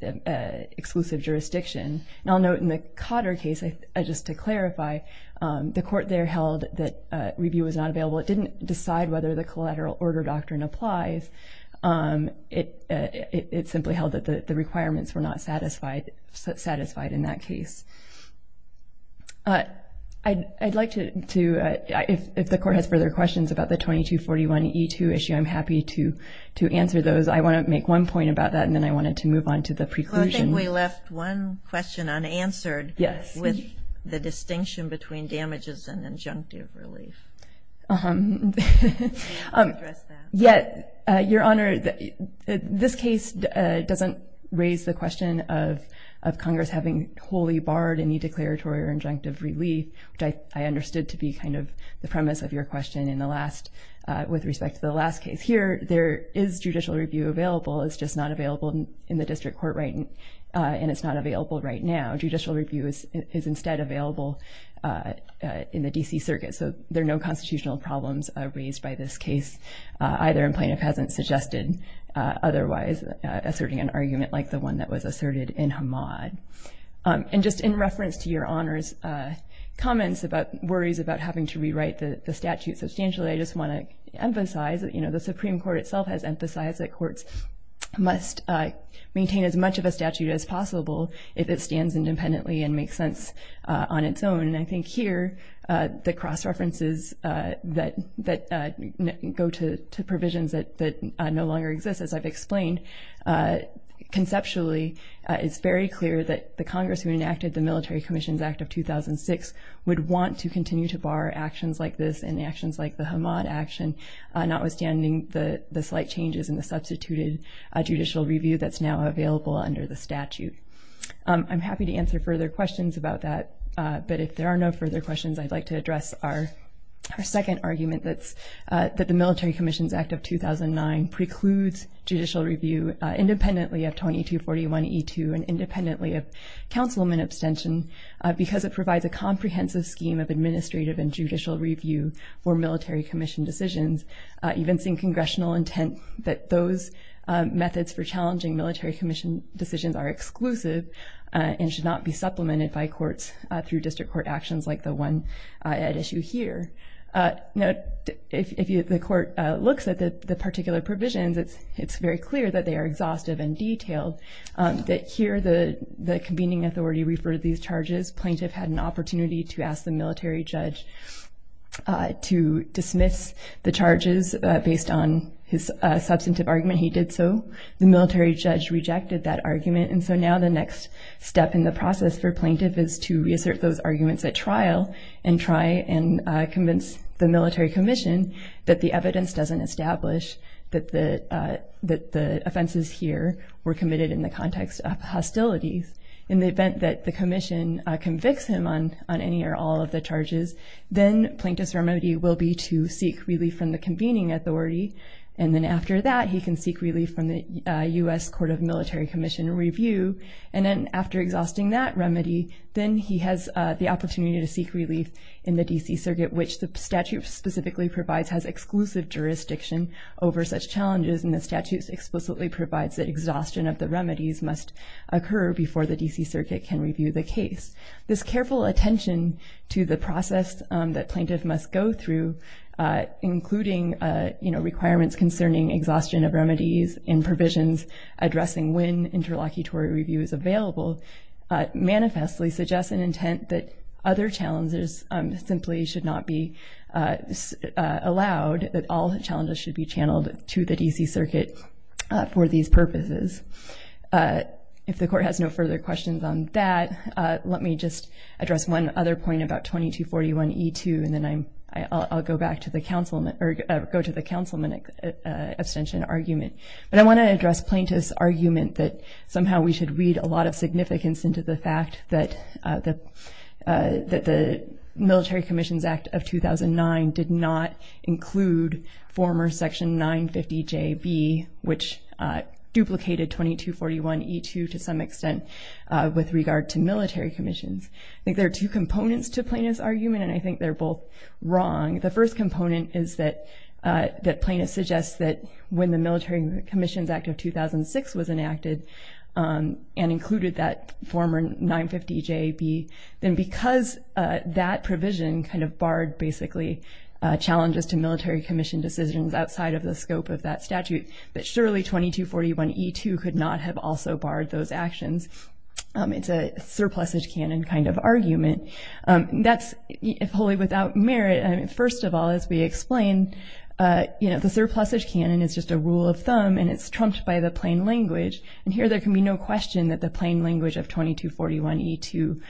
exclusive jurisdiction. And I'll note in the Cotter case, just to clarify, the court there held that review was not available. It didn't decide whether the collateral order doctrine applies. It simply held that the requirements were not satisfied in that case. I'd like to, if the court has further questions about the 2241E2 issue, I'm happy to answer those. I want to make one point about that, and then I wanted to move on to the preclusion. Well, I think we left one question unanswered. Yes. With the distinction between damages and injunctive relief. Can you address that? Yes, Your Honor. This case doesn't raise the question of Congress having wholly barred any declaratory or injunctive relief, which I understood to be kind of the premise of your question in the last, with respect to the last case. Here, there is judicial review available. It's just not available in the district court right now. Judicial review is instead available in the D.C. Circuit. So there are no constitutional problems raised by this case, either, and plaintiff hasn't suggested otherwise asserting an argument like the one that was asserted in Hamad. And just in reference to Your Honor's comments about worries about having to rewrite the statute substantially, I just want to emphasize that the Supreme Court itself has emphasized that courts must maintain as much of a statute as possible if it stands independently and makes sense on its own. And I think here the cross-references that go to provisions that no longer exist, as I've explained, conceptually it's very clear that the Congress who enacted the Military Commissions Act of 2006 would want to continue to bar actions like this and actions like the Hamad action, notwithstanding the slight changes in the substituted judicial review that's now available under the statute. I'm happy to answer further questions about that. But if there are no further questions, I'd like to address our second argument, that the Military Commissions Act of 2009 precludes judicial review independently of 2241E2 and independently of councilman abstention because it provides a comprehensive scheme of administrative and judicial review for military commission decisions, evincing congressional intent that those methods for challenging military commission decisions are exclusive and should not be supplemented by courts through district court actions like the one at issue here. If the court looks at the particular provisions, it's very clear that they are exhaustive and detailed. Here the convening authority referred these charges. Plaintiff had an opportunity to ask the military judge to dismiss the charges based on his substantive argument. He did so. The military judge rejected that argument. And so now the next step in the process for plaintiff is to reassert those arguments at trial and try and convince the military commission that the evidence doesn't establish that the offenses here were committed in the context of hostilities. In the event that the commission convicts him on any or all of the charges, then plaintiff's remedy will be to seek relief from the convening authority. And then after that, he can seek relief from the U.S. Court of Military Commission review. And then after exhausting that remedy, then he has the opportunity to seek relief in the D.C. Circuit, which the statute specifically provides has exclusive jurisdiction over such challenges, and the statute explicitly provides that exhaustion of the remedies must occur before the D.C. Circuit can review the case. This careful attention to the process that plaintiff must go through, including, you know, requirements concerning exhaustion of remedies and provisions addressing when interlocutory review is available, manifestly suggests an intent that other challenges simply should not be allowed, that all challenges should be channeled to the D.C. Circuit for these purposes. If the court has no further questions on that, let me just address one other point about 2241E2, and then I'll go back to the councilman abstention argument. But I want to address plaintiff's argument that somehow we should read a lot of significance into the fact that the Military Commissions Act of 2009 did not include former Section 950JB, which duplicated 2241E2 to some extent with regard to military commissions. I think there are two components to plaintiff's argument, and I think they're both wrong. The first component is that plaintiff suggests that when the Military Commissions Act of 2006 was enacted and included that former 950JB, then because that provision kind of barred, basically, challenges to military commission decisions outside of the scope of that statute, that surely 2241E2 could not have also barred those actions. It's a surplusage canon kind of argument. That's wholly without merit. First of all, as we explained, you know, the surplusage canon is just a rule of thumb, and it's trumped by the plain language. And here there can be no question that the plain language of 2241E2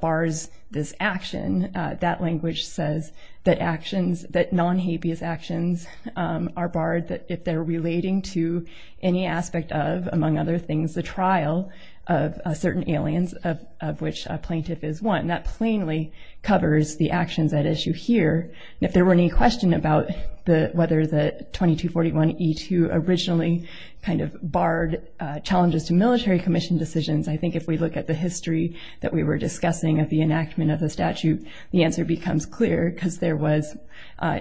bars this action. That language says that actions, that non-habeas actions are barred if they're relating to any aspect of, among other things, the trial of certain aliens, of which a plaintiff is one. That plainly covers the actions at issue here. And if there were any question about whether the 2241E2 originally kind of barred challenges to military commission decisions, I think if we look at the history that we were discussing of the enactment of the statute, the answer becomes clear, because there was,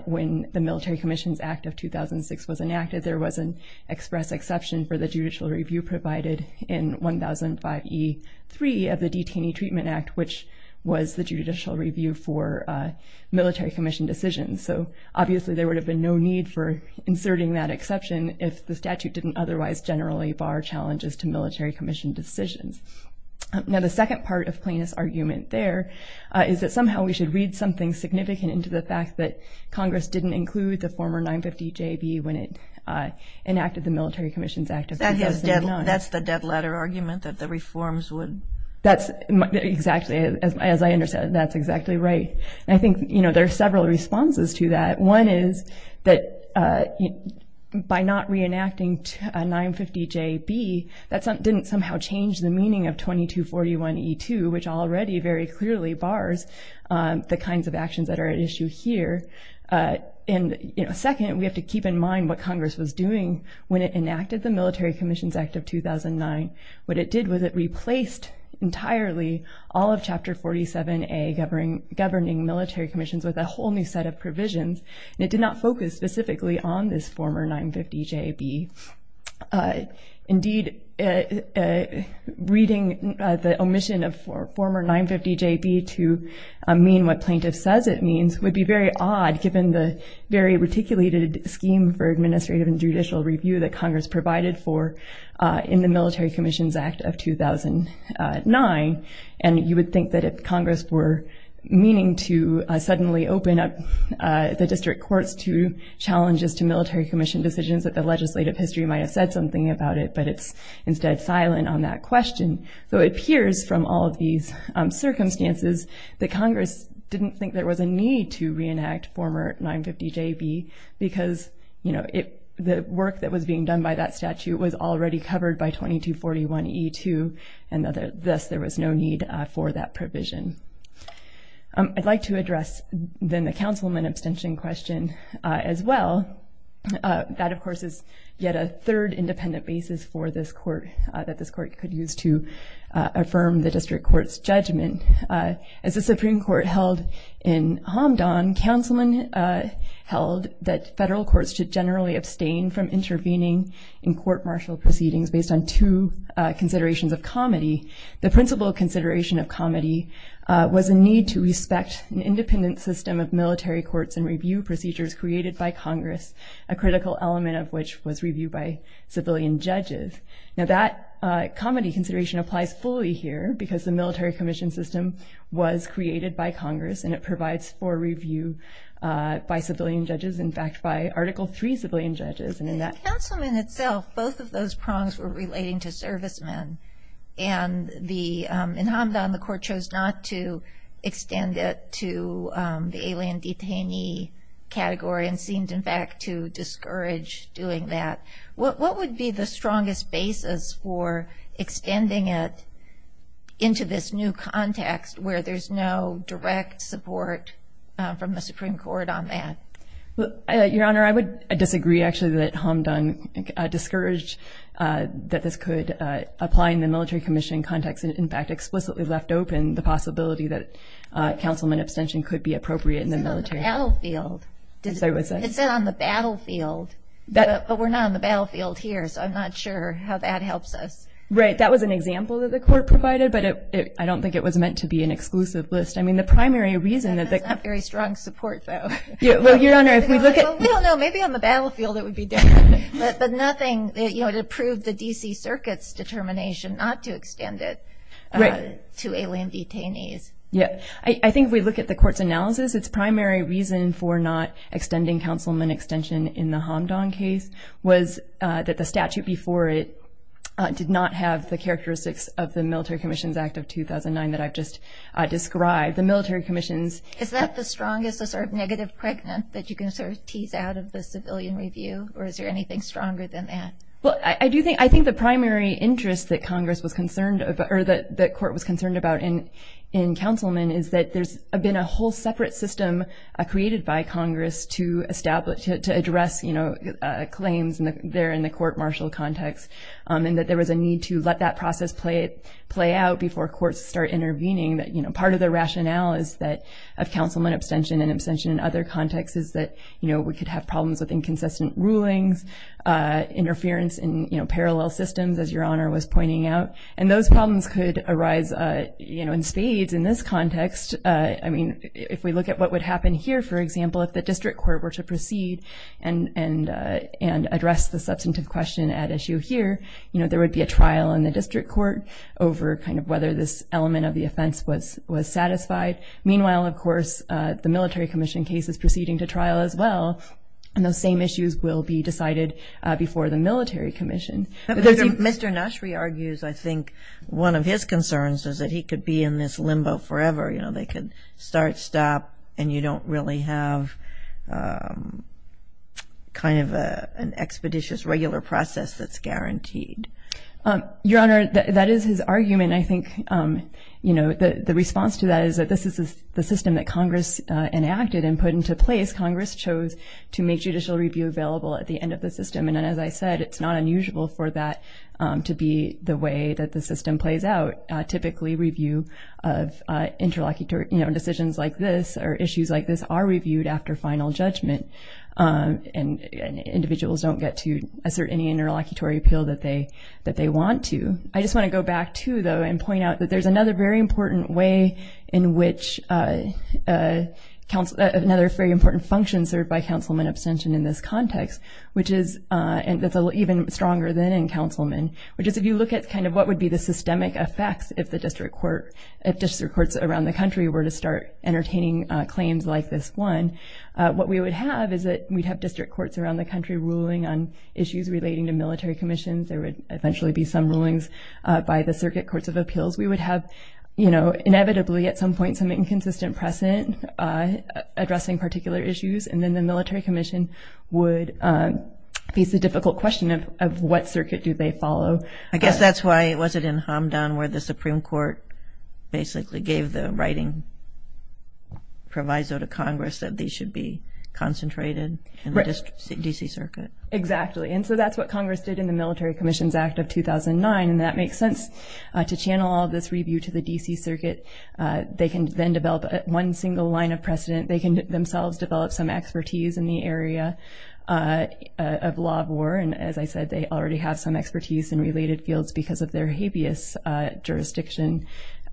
when the Military Commissions Act of 2006 was enacted, there was an express exception for the judicial review provided in 1005E3 of the Detainee Treatment Act, which was the judicial review for military commission decisions. So, obviously, there would have been no need for inserting that exception if the statute didn't otherwise generally bar challenges to military commission decisions. Now, the second part of Plaintiff's argument there is that somehow we should read something significant into the fact that Congress didn't include the former 950JB when it enacted the Military Commissions Act of 2009. That's the dead letter argument that the reforms would? That's exactly, as I understand it, that's exactly right. And I think, you know, there are several responses to that. One is that by not reenacting 950JB, that didn't somehow change the meaning of 2241E2, which already very clearly bars the kinds of actions that are at issue here. And, you know, second, we have to keep in mind what Congress was doing when it enacted the Military Commissions Act of 2009. What it did was it replaced entirely all of Chapter 47A, governing military commissions, with a whole new set of provisions. And it did not focus specifically on this former 950JB. Indeed, reading the omission of former 950JB to mean what Plaintiff says it means would be very odd given the very reticulated scheme for administrative and judicial review that Congress provided for in the Military Commissions Act of 2009. And you would think that if Congress were meaning to suddenly open up the district courts to challenges to military commission decisions, that the legislative history might have said something about it, but it's instead silent on that question. So it appears from all of these circumstances that Congress didn't think there was a need to reenact former 950JB because, you know, the work that was being done by that statute was already covered by 2241E2, and thus there was no need for that provision. I'd like to address then the councilman abstention question as well. That, of course, is yet a third independent basis for this court, that this court could use to affirm the district court's judgment. As the Supreme Court held in Hamdan, councilmen held that federal courts should generally abstain from intervening in court-martial proceedings based on two considerations of comity. The principal consideration of comity was a need to respect an independent system of military courts and review procedures created by Congress, a critical element of which was reviewed by civilian judges. Now that comity consideration applies fully here because the military commission system was created by Congress and it provides for review by civilian judges, in fact, by Article III civilian judges. In the councilman itself, both of those prongs were relating to servicemen, and in Hamdan the court chose not to extend it to the alien detainee category and seemed, in fact, to discourage doing that. What would be the strongest basis for extending it into this new context where there's no direct support from the Supreme Court on that? Your Honor, I would disagree, actually, that Hamdan discouraged that this could apply in the military commission context and, in fact, explicitly left open the possibility that councilman abstention could be appropriate in the military. It said on the battlefield, but we're not on the battlefield here, so I'm not sure how that helps us. Right, that was an example that the court provided, but I don't think it was meant to be an exclusive list. That's not very strong support, though. Well, Your Honor, if we look at... Well, we don't know. Maybe on the battlefield it would be different, but nothing to prove the D.C. Circuit's determination not to extend it to alien detainees. Yeah, I think if we look at the court's analysis, its primary reason for not extending councilman abstention in the Hamdan case was that the statute before it did not have the characteristics of the Military Commissions Act of 2009 that I've just described. The Military Commissions... Is that the strongest, the sort of negative pregnant that you can sort of tease out of the civilian review, or is there anything stronger than that? Well, I do think... I think the primary interest that Congress was concerned about, or that the court was concerned about in councilman is that there's been a whole separate system created by Congress to address claims there in the court-martial context, and that there was a need to let that process play out before courts start intervening. Part of the rationale of councilman abstention and abstention in other contexts is that we could have problems with inconsistent rulings, interference in parallel systems, as Your Honor was pointing out, and those problems could arise in spades in this context. I mean, if we look at what would happen here, for example, if the district court were to proceed and address the substantive question at issue here, there would be a trial in the district court over kind of whether this element of the offense was satisfied. Meanwhile, of course, the Military Commission case is proceeding to trial as well, and those same issues will be decided before the Military Commission. Mr. Nashry argues, I think, one of his concerns is that he could be in this limbo forever. You know, they could start, stop, and you don't really have kind of an expeditious regular process that's guaranteed. Your Honor, that is his argument. I think, you know, the response to that is that this is the system that Congress enacted and put into place. Congress chose to make judicial review available at the end of the system, and as I said, it's not unusual for that to be the way that the system plays out, typically review of interlocutory decisions like this or issues like this are reviewed after final judgment, and individuals don't get to assert any interlocutory appeal that they want to. I just want to go back, too, though, and point out that there's another very important way in which another very important function served by councilman abstention in this context, which is even stronger than in councilman, which is if you look at kind of what would be the systemic effects if district courts around the country were to start entertaining claims like this one, what we would have is that we'd have district courts around the country ruling on issues relating to military commissions. There would eventually be some rulings by the circuit courts of appeals. We would have, you know, inevitably at some point some inconsistent precedent addressing particular issues, and then the military commission would face the difficult question of what circuit do they follow. I guess that's why it wasn't in Hamdan where the Supreme Court basically gave the writing proviso to Congress that these should be concentrated in the D.C. Circuit. Exactly, and so that's what Congress did in the Military Commissions Act of 2009, and that makes sense to channel all this review to the D.C. Circuit. They can then develop one single line of precedent. They can themselves develop some expertise in the area of law of war, and as I said, they already have some expertise in related fields because of their habeas jurisdiction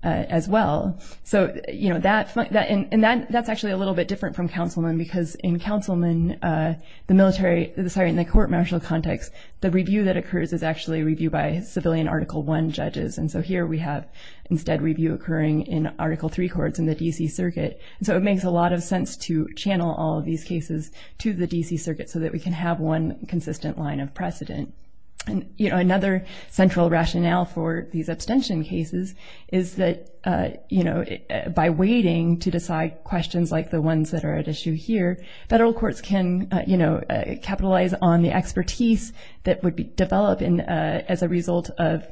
as well. So, you know, that's actually a little bit different from councilmen because in councilmen, the military, sorry, in the court martial context, the review that occurs is actually reviewed by civilian Article I judges, and so here we have instead review occurring in Article III courts in the D.C. Circuit. So it makes a lot of sense to channel all of these cases to the D.C. Circuit so that we can have one consistent line of precedent. And, you know, another central rationale for these abstention cases is that, you know, by waiting to decide questions like the ones that are at issue here, federal courts can, you know, capitalize on the expertise that would develop as a result of,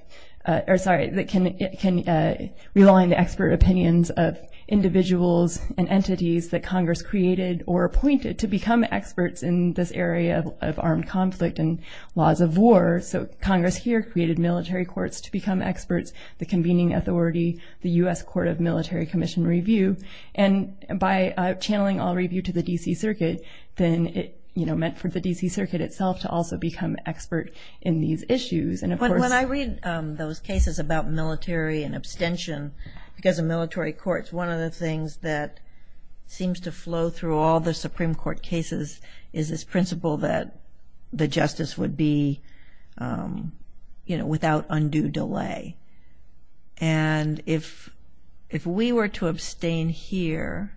or sorry, that can rely on the expert opinions of individuals and entities that Congress created or appointed to become experts in this area of armed conflict and laws of war. So Congress here created military courts to become experts, the convening authority, the U.S. Court of Military Commission review. And by channeling all review to the D.C. Circuit, then it, you know, meant for the D.C. Circuit itself to also become expert in these issues. And of course – When I read those cases about military and abstention because of military courts, one of the things that seems to flow through all the Supreme Court cases is this principle that the justice would be, you know, without undue delay. And if we were to abstain here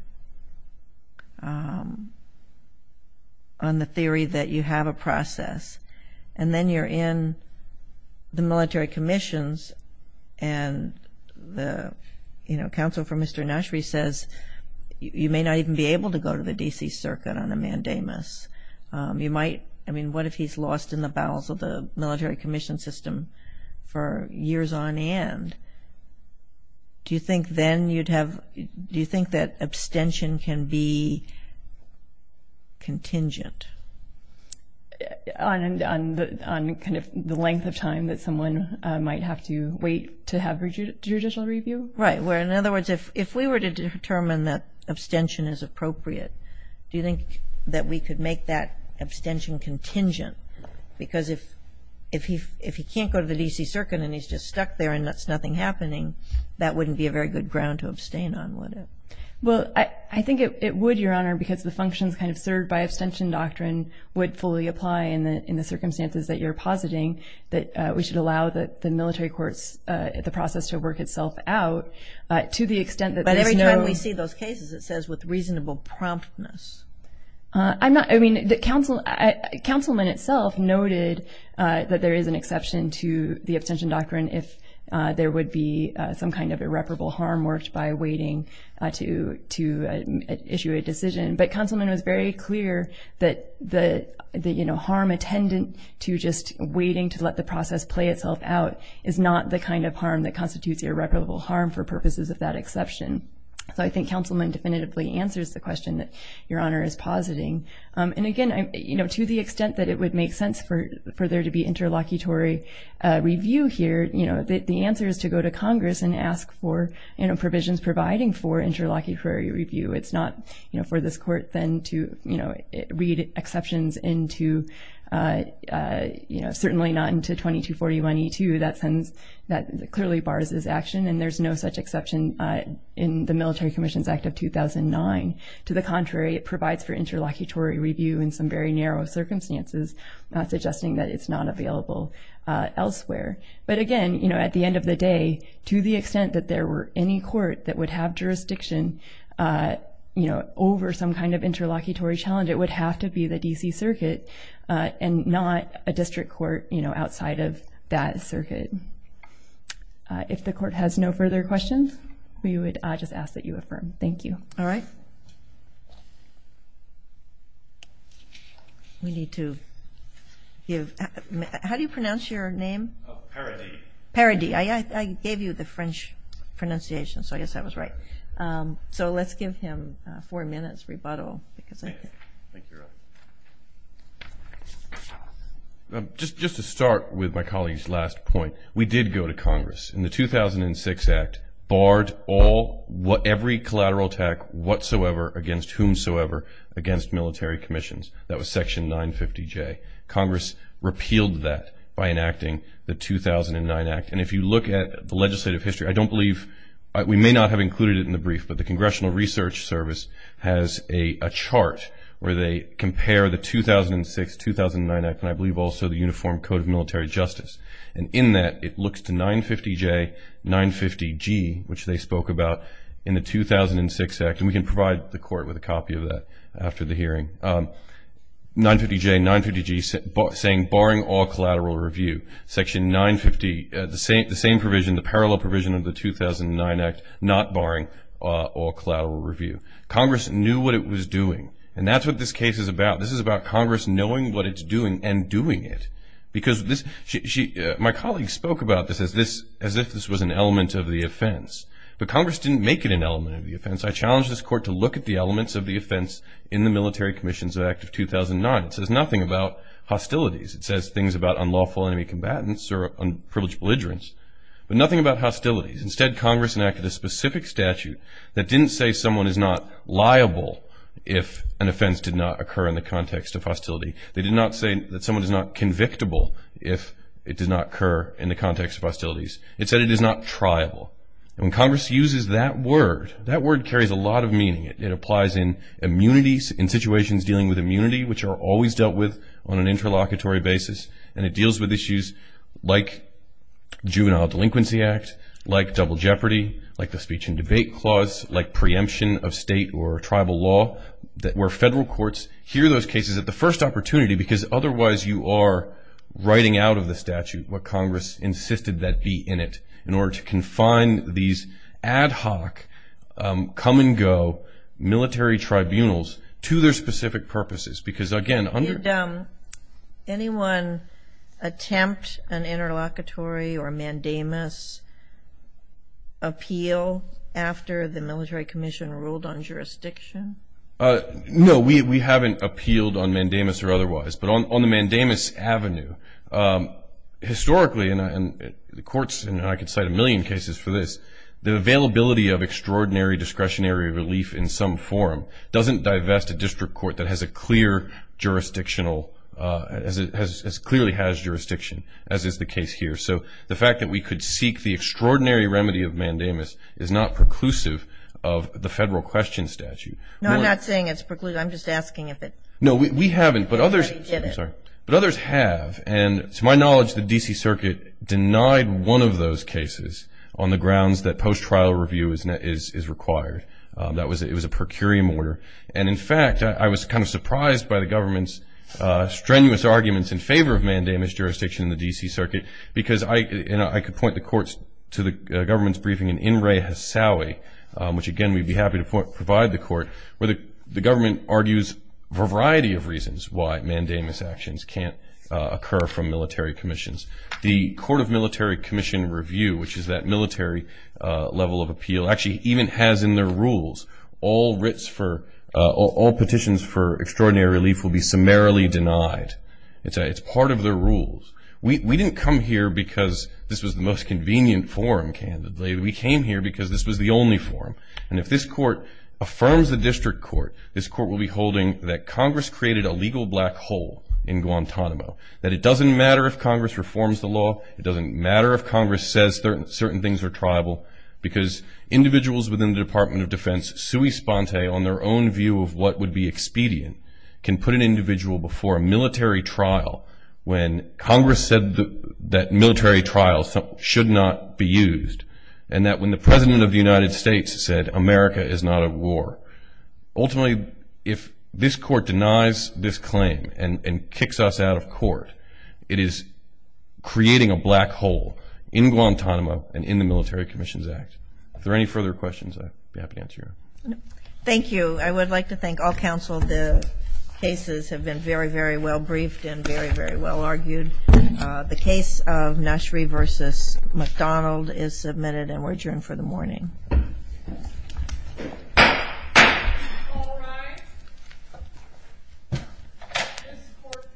on the theory that you have a process and then you're in the military commissions and the, you know, counsel for Mr. Nashry says you may not even be able to go to the D.C. Circuit on a mandamus, you might – I mean, what if he's lost in the bowels of the military commission system for years on end? Do you think then you'd have – do you think that abstention can be contingent? On kind of the length of time that someone might have to wait to have a judicial review? Right. Well, in other words, if we were to determine that abstention is appropriate, do you think that we could make that abstention contingent? Because if he can't go to the D.C. Circuit and he's just stuck there and that's nothing happening, that wouldn't be a very good ground to abstain on, would it? Well, I think it would, Your Honor, because the functions kind of served by abstention doctrine would fully apply in the circumstances that you're positing that we should allow the military courts, the process to work itself out to the extent that there's no – But every time we see those cases, it says with reasonable promptness. I'm not – I mean, the councilman itself noted that there is an exception to the abstention doctrine if there would be some kind of irreparable harm worked by waiting to issue a decision. But councilman was very clear that the harm attendant to just waiting to let the process play itself out is not the kind of harm that constitutes irreparable harm for purposes of that exception. So I think councilman definitively answers the question that Your Honor is positing. And again, to the extent that it would make sense for there to be interlocutory review here, the answer is to go to Congress and ask for provisions providing for interlocutory review. It's not for this court then to read exceptions into – certainly not into 2241E2. That clearly bars this action and there's no such exception in the Military Commissions Act of 2009. To the contrary, it provides for interlocutory review in some very narrow circumstances, not suggesting that it's not available elsewhere. But again, you know, at the end of the day, to the extent that there were any court that would have jurisdiction, you know, over some kind of interlocutory challenge, it would have to be the D.C. Circuit and not a district court, you know, outside of that circuit. If the court has no further questions, we would just ask that you affirm. Thank you. All right. We need to give – how do you pronounce your name? Paradis. Paradis. I gave you the French pronunciation, so I guess that was right. So let's give him four minutes rebuttal. In the 2006 Act, barred all – every collateral attack whatsoever against whomsoever against military commissions. That was Section 950J. Congress repealed that by enacting the 2009 Act. And if you look at the legislative history, I don't believe – we may not have included it in the brief, but the Congressional Research Service has a chart where they compare the 2006-2009 Act and I believe also the Uniform Code of Military Justice. And in that, it looks to 950J, 950G, which they spoke about in the 2006 Act, and we can provide the court with a copy of that after the hearing, 950J, 950G saying barring all collateral review. Section 950, the same provision, the parallel provision of the 2009 Act, not barring all collateral review. Congress knew what it was doing, and that's what this case is about. This is about Congress knowing what it's doing and doing it. My colleague spoke about this as if this was an element of the offense, but Congress didn't make it an element of the offense. I challenge this Court to look at the elements of the offense in the Military Commissions Act of 2009. It says nothing about hostilities. It says things about unlawful enemy combatants or unprivileged belligerents, but nothing about hostilities. Instead, Congress enacted a specific statute that didn't say someone is not liable if an offense did not occur in the context of hostility. They did not say that someone is not convictable if it did not occur in the context of hostilities. It said it is not triable. And when Congress uses that word, that word carries a lot of meaning. It applies in immunities, in situations dealing with immunity, which are always dealt with on an interlocutory basis, and it deals with issues like Juvenile Delinquency Act, like double jeopardy, like the Speech and Debate Clause, like preemption of state or tribal law, where federal courts hear those cases at the first opportunity because otherwise you are writing out of the statute what Congress insisted that be in it in order to confine these ad hoc, come-and-go military tribunals to their specific purposes. Because, again, under- Did anyone attempt an interlocutory or mandamus appeal after the military commission ruled on jurisdiction? No, we haven't appealed on mandamus or otherwise. But on the mandamus avenue, historically, and the courts, and I could cite a million cases for this, the availability of extraordinary discretionary relief in some form doesn't divest a district court that has a clear jurisdictional, clearly has jurisdiction, as is the case here. So the fact that we could seek the extraordinary remedy of mandamus is not preclusive of the federal question statute. No, I'm not saying it's preclusive. I'm just asking if it- No, we haven't. But others- I'm sorry. But others have. And to my knowledge, the D.C. Circuit denied one of those cases on the grounds that post-trial review is required. It was a per curiam order. And, in fact, I was kind of surprised by the government's strenuous arguments in favor of mandamus jurisdiction in the D.C. Circuit because I could point the courts to the government's briefing in In-Re-Ha-Sa-Wi, which, again, we'd be happy to provide the court, where the government argues a variety of reasons why mandamus actions can't occur from military commissions. The Court of Military Commission Review, which is that military level of appeal, actually even has in their rules all petitions for extraordinary relief will be summarily denied. It's part of their rules. We didn't come here because this was the most convenient forum, candidly. We came here because this was the only forum. And if this court affirms the district court, this court will be holding that Congress created a legal black hole in Guantanamo, that it doesn't matter if Congress reforms the law. It doesn't matter if Congress says certain things are tribal because individuals within the Department of Defense, sui sponte, on their own view of what would be expedient, can put an individual before a military trial when Congress said that military trials should not be used and that when the President of the United States said America is not at war. Ultimately, if this court denies this claim and kicks us out of court, it is creating a black hole in Guantanamo and in the Military Commissions Act. If there are any further questions, I'd be happy to answer them. Thank you. I would like to thank all counsel. The cases have been very, very well briefed and very, very well argued. The case of Nashree v. McDonald is submitted and we're adjourned for the morning. All rise. This court for this session stands adjourned.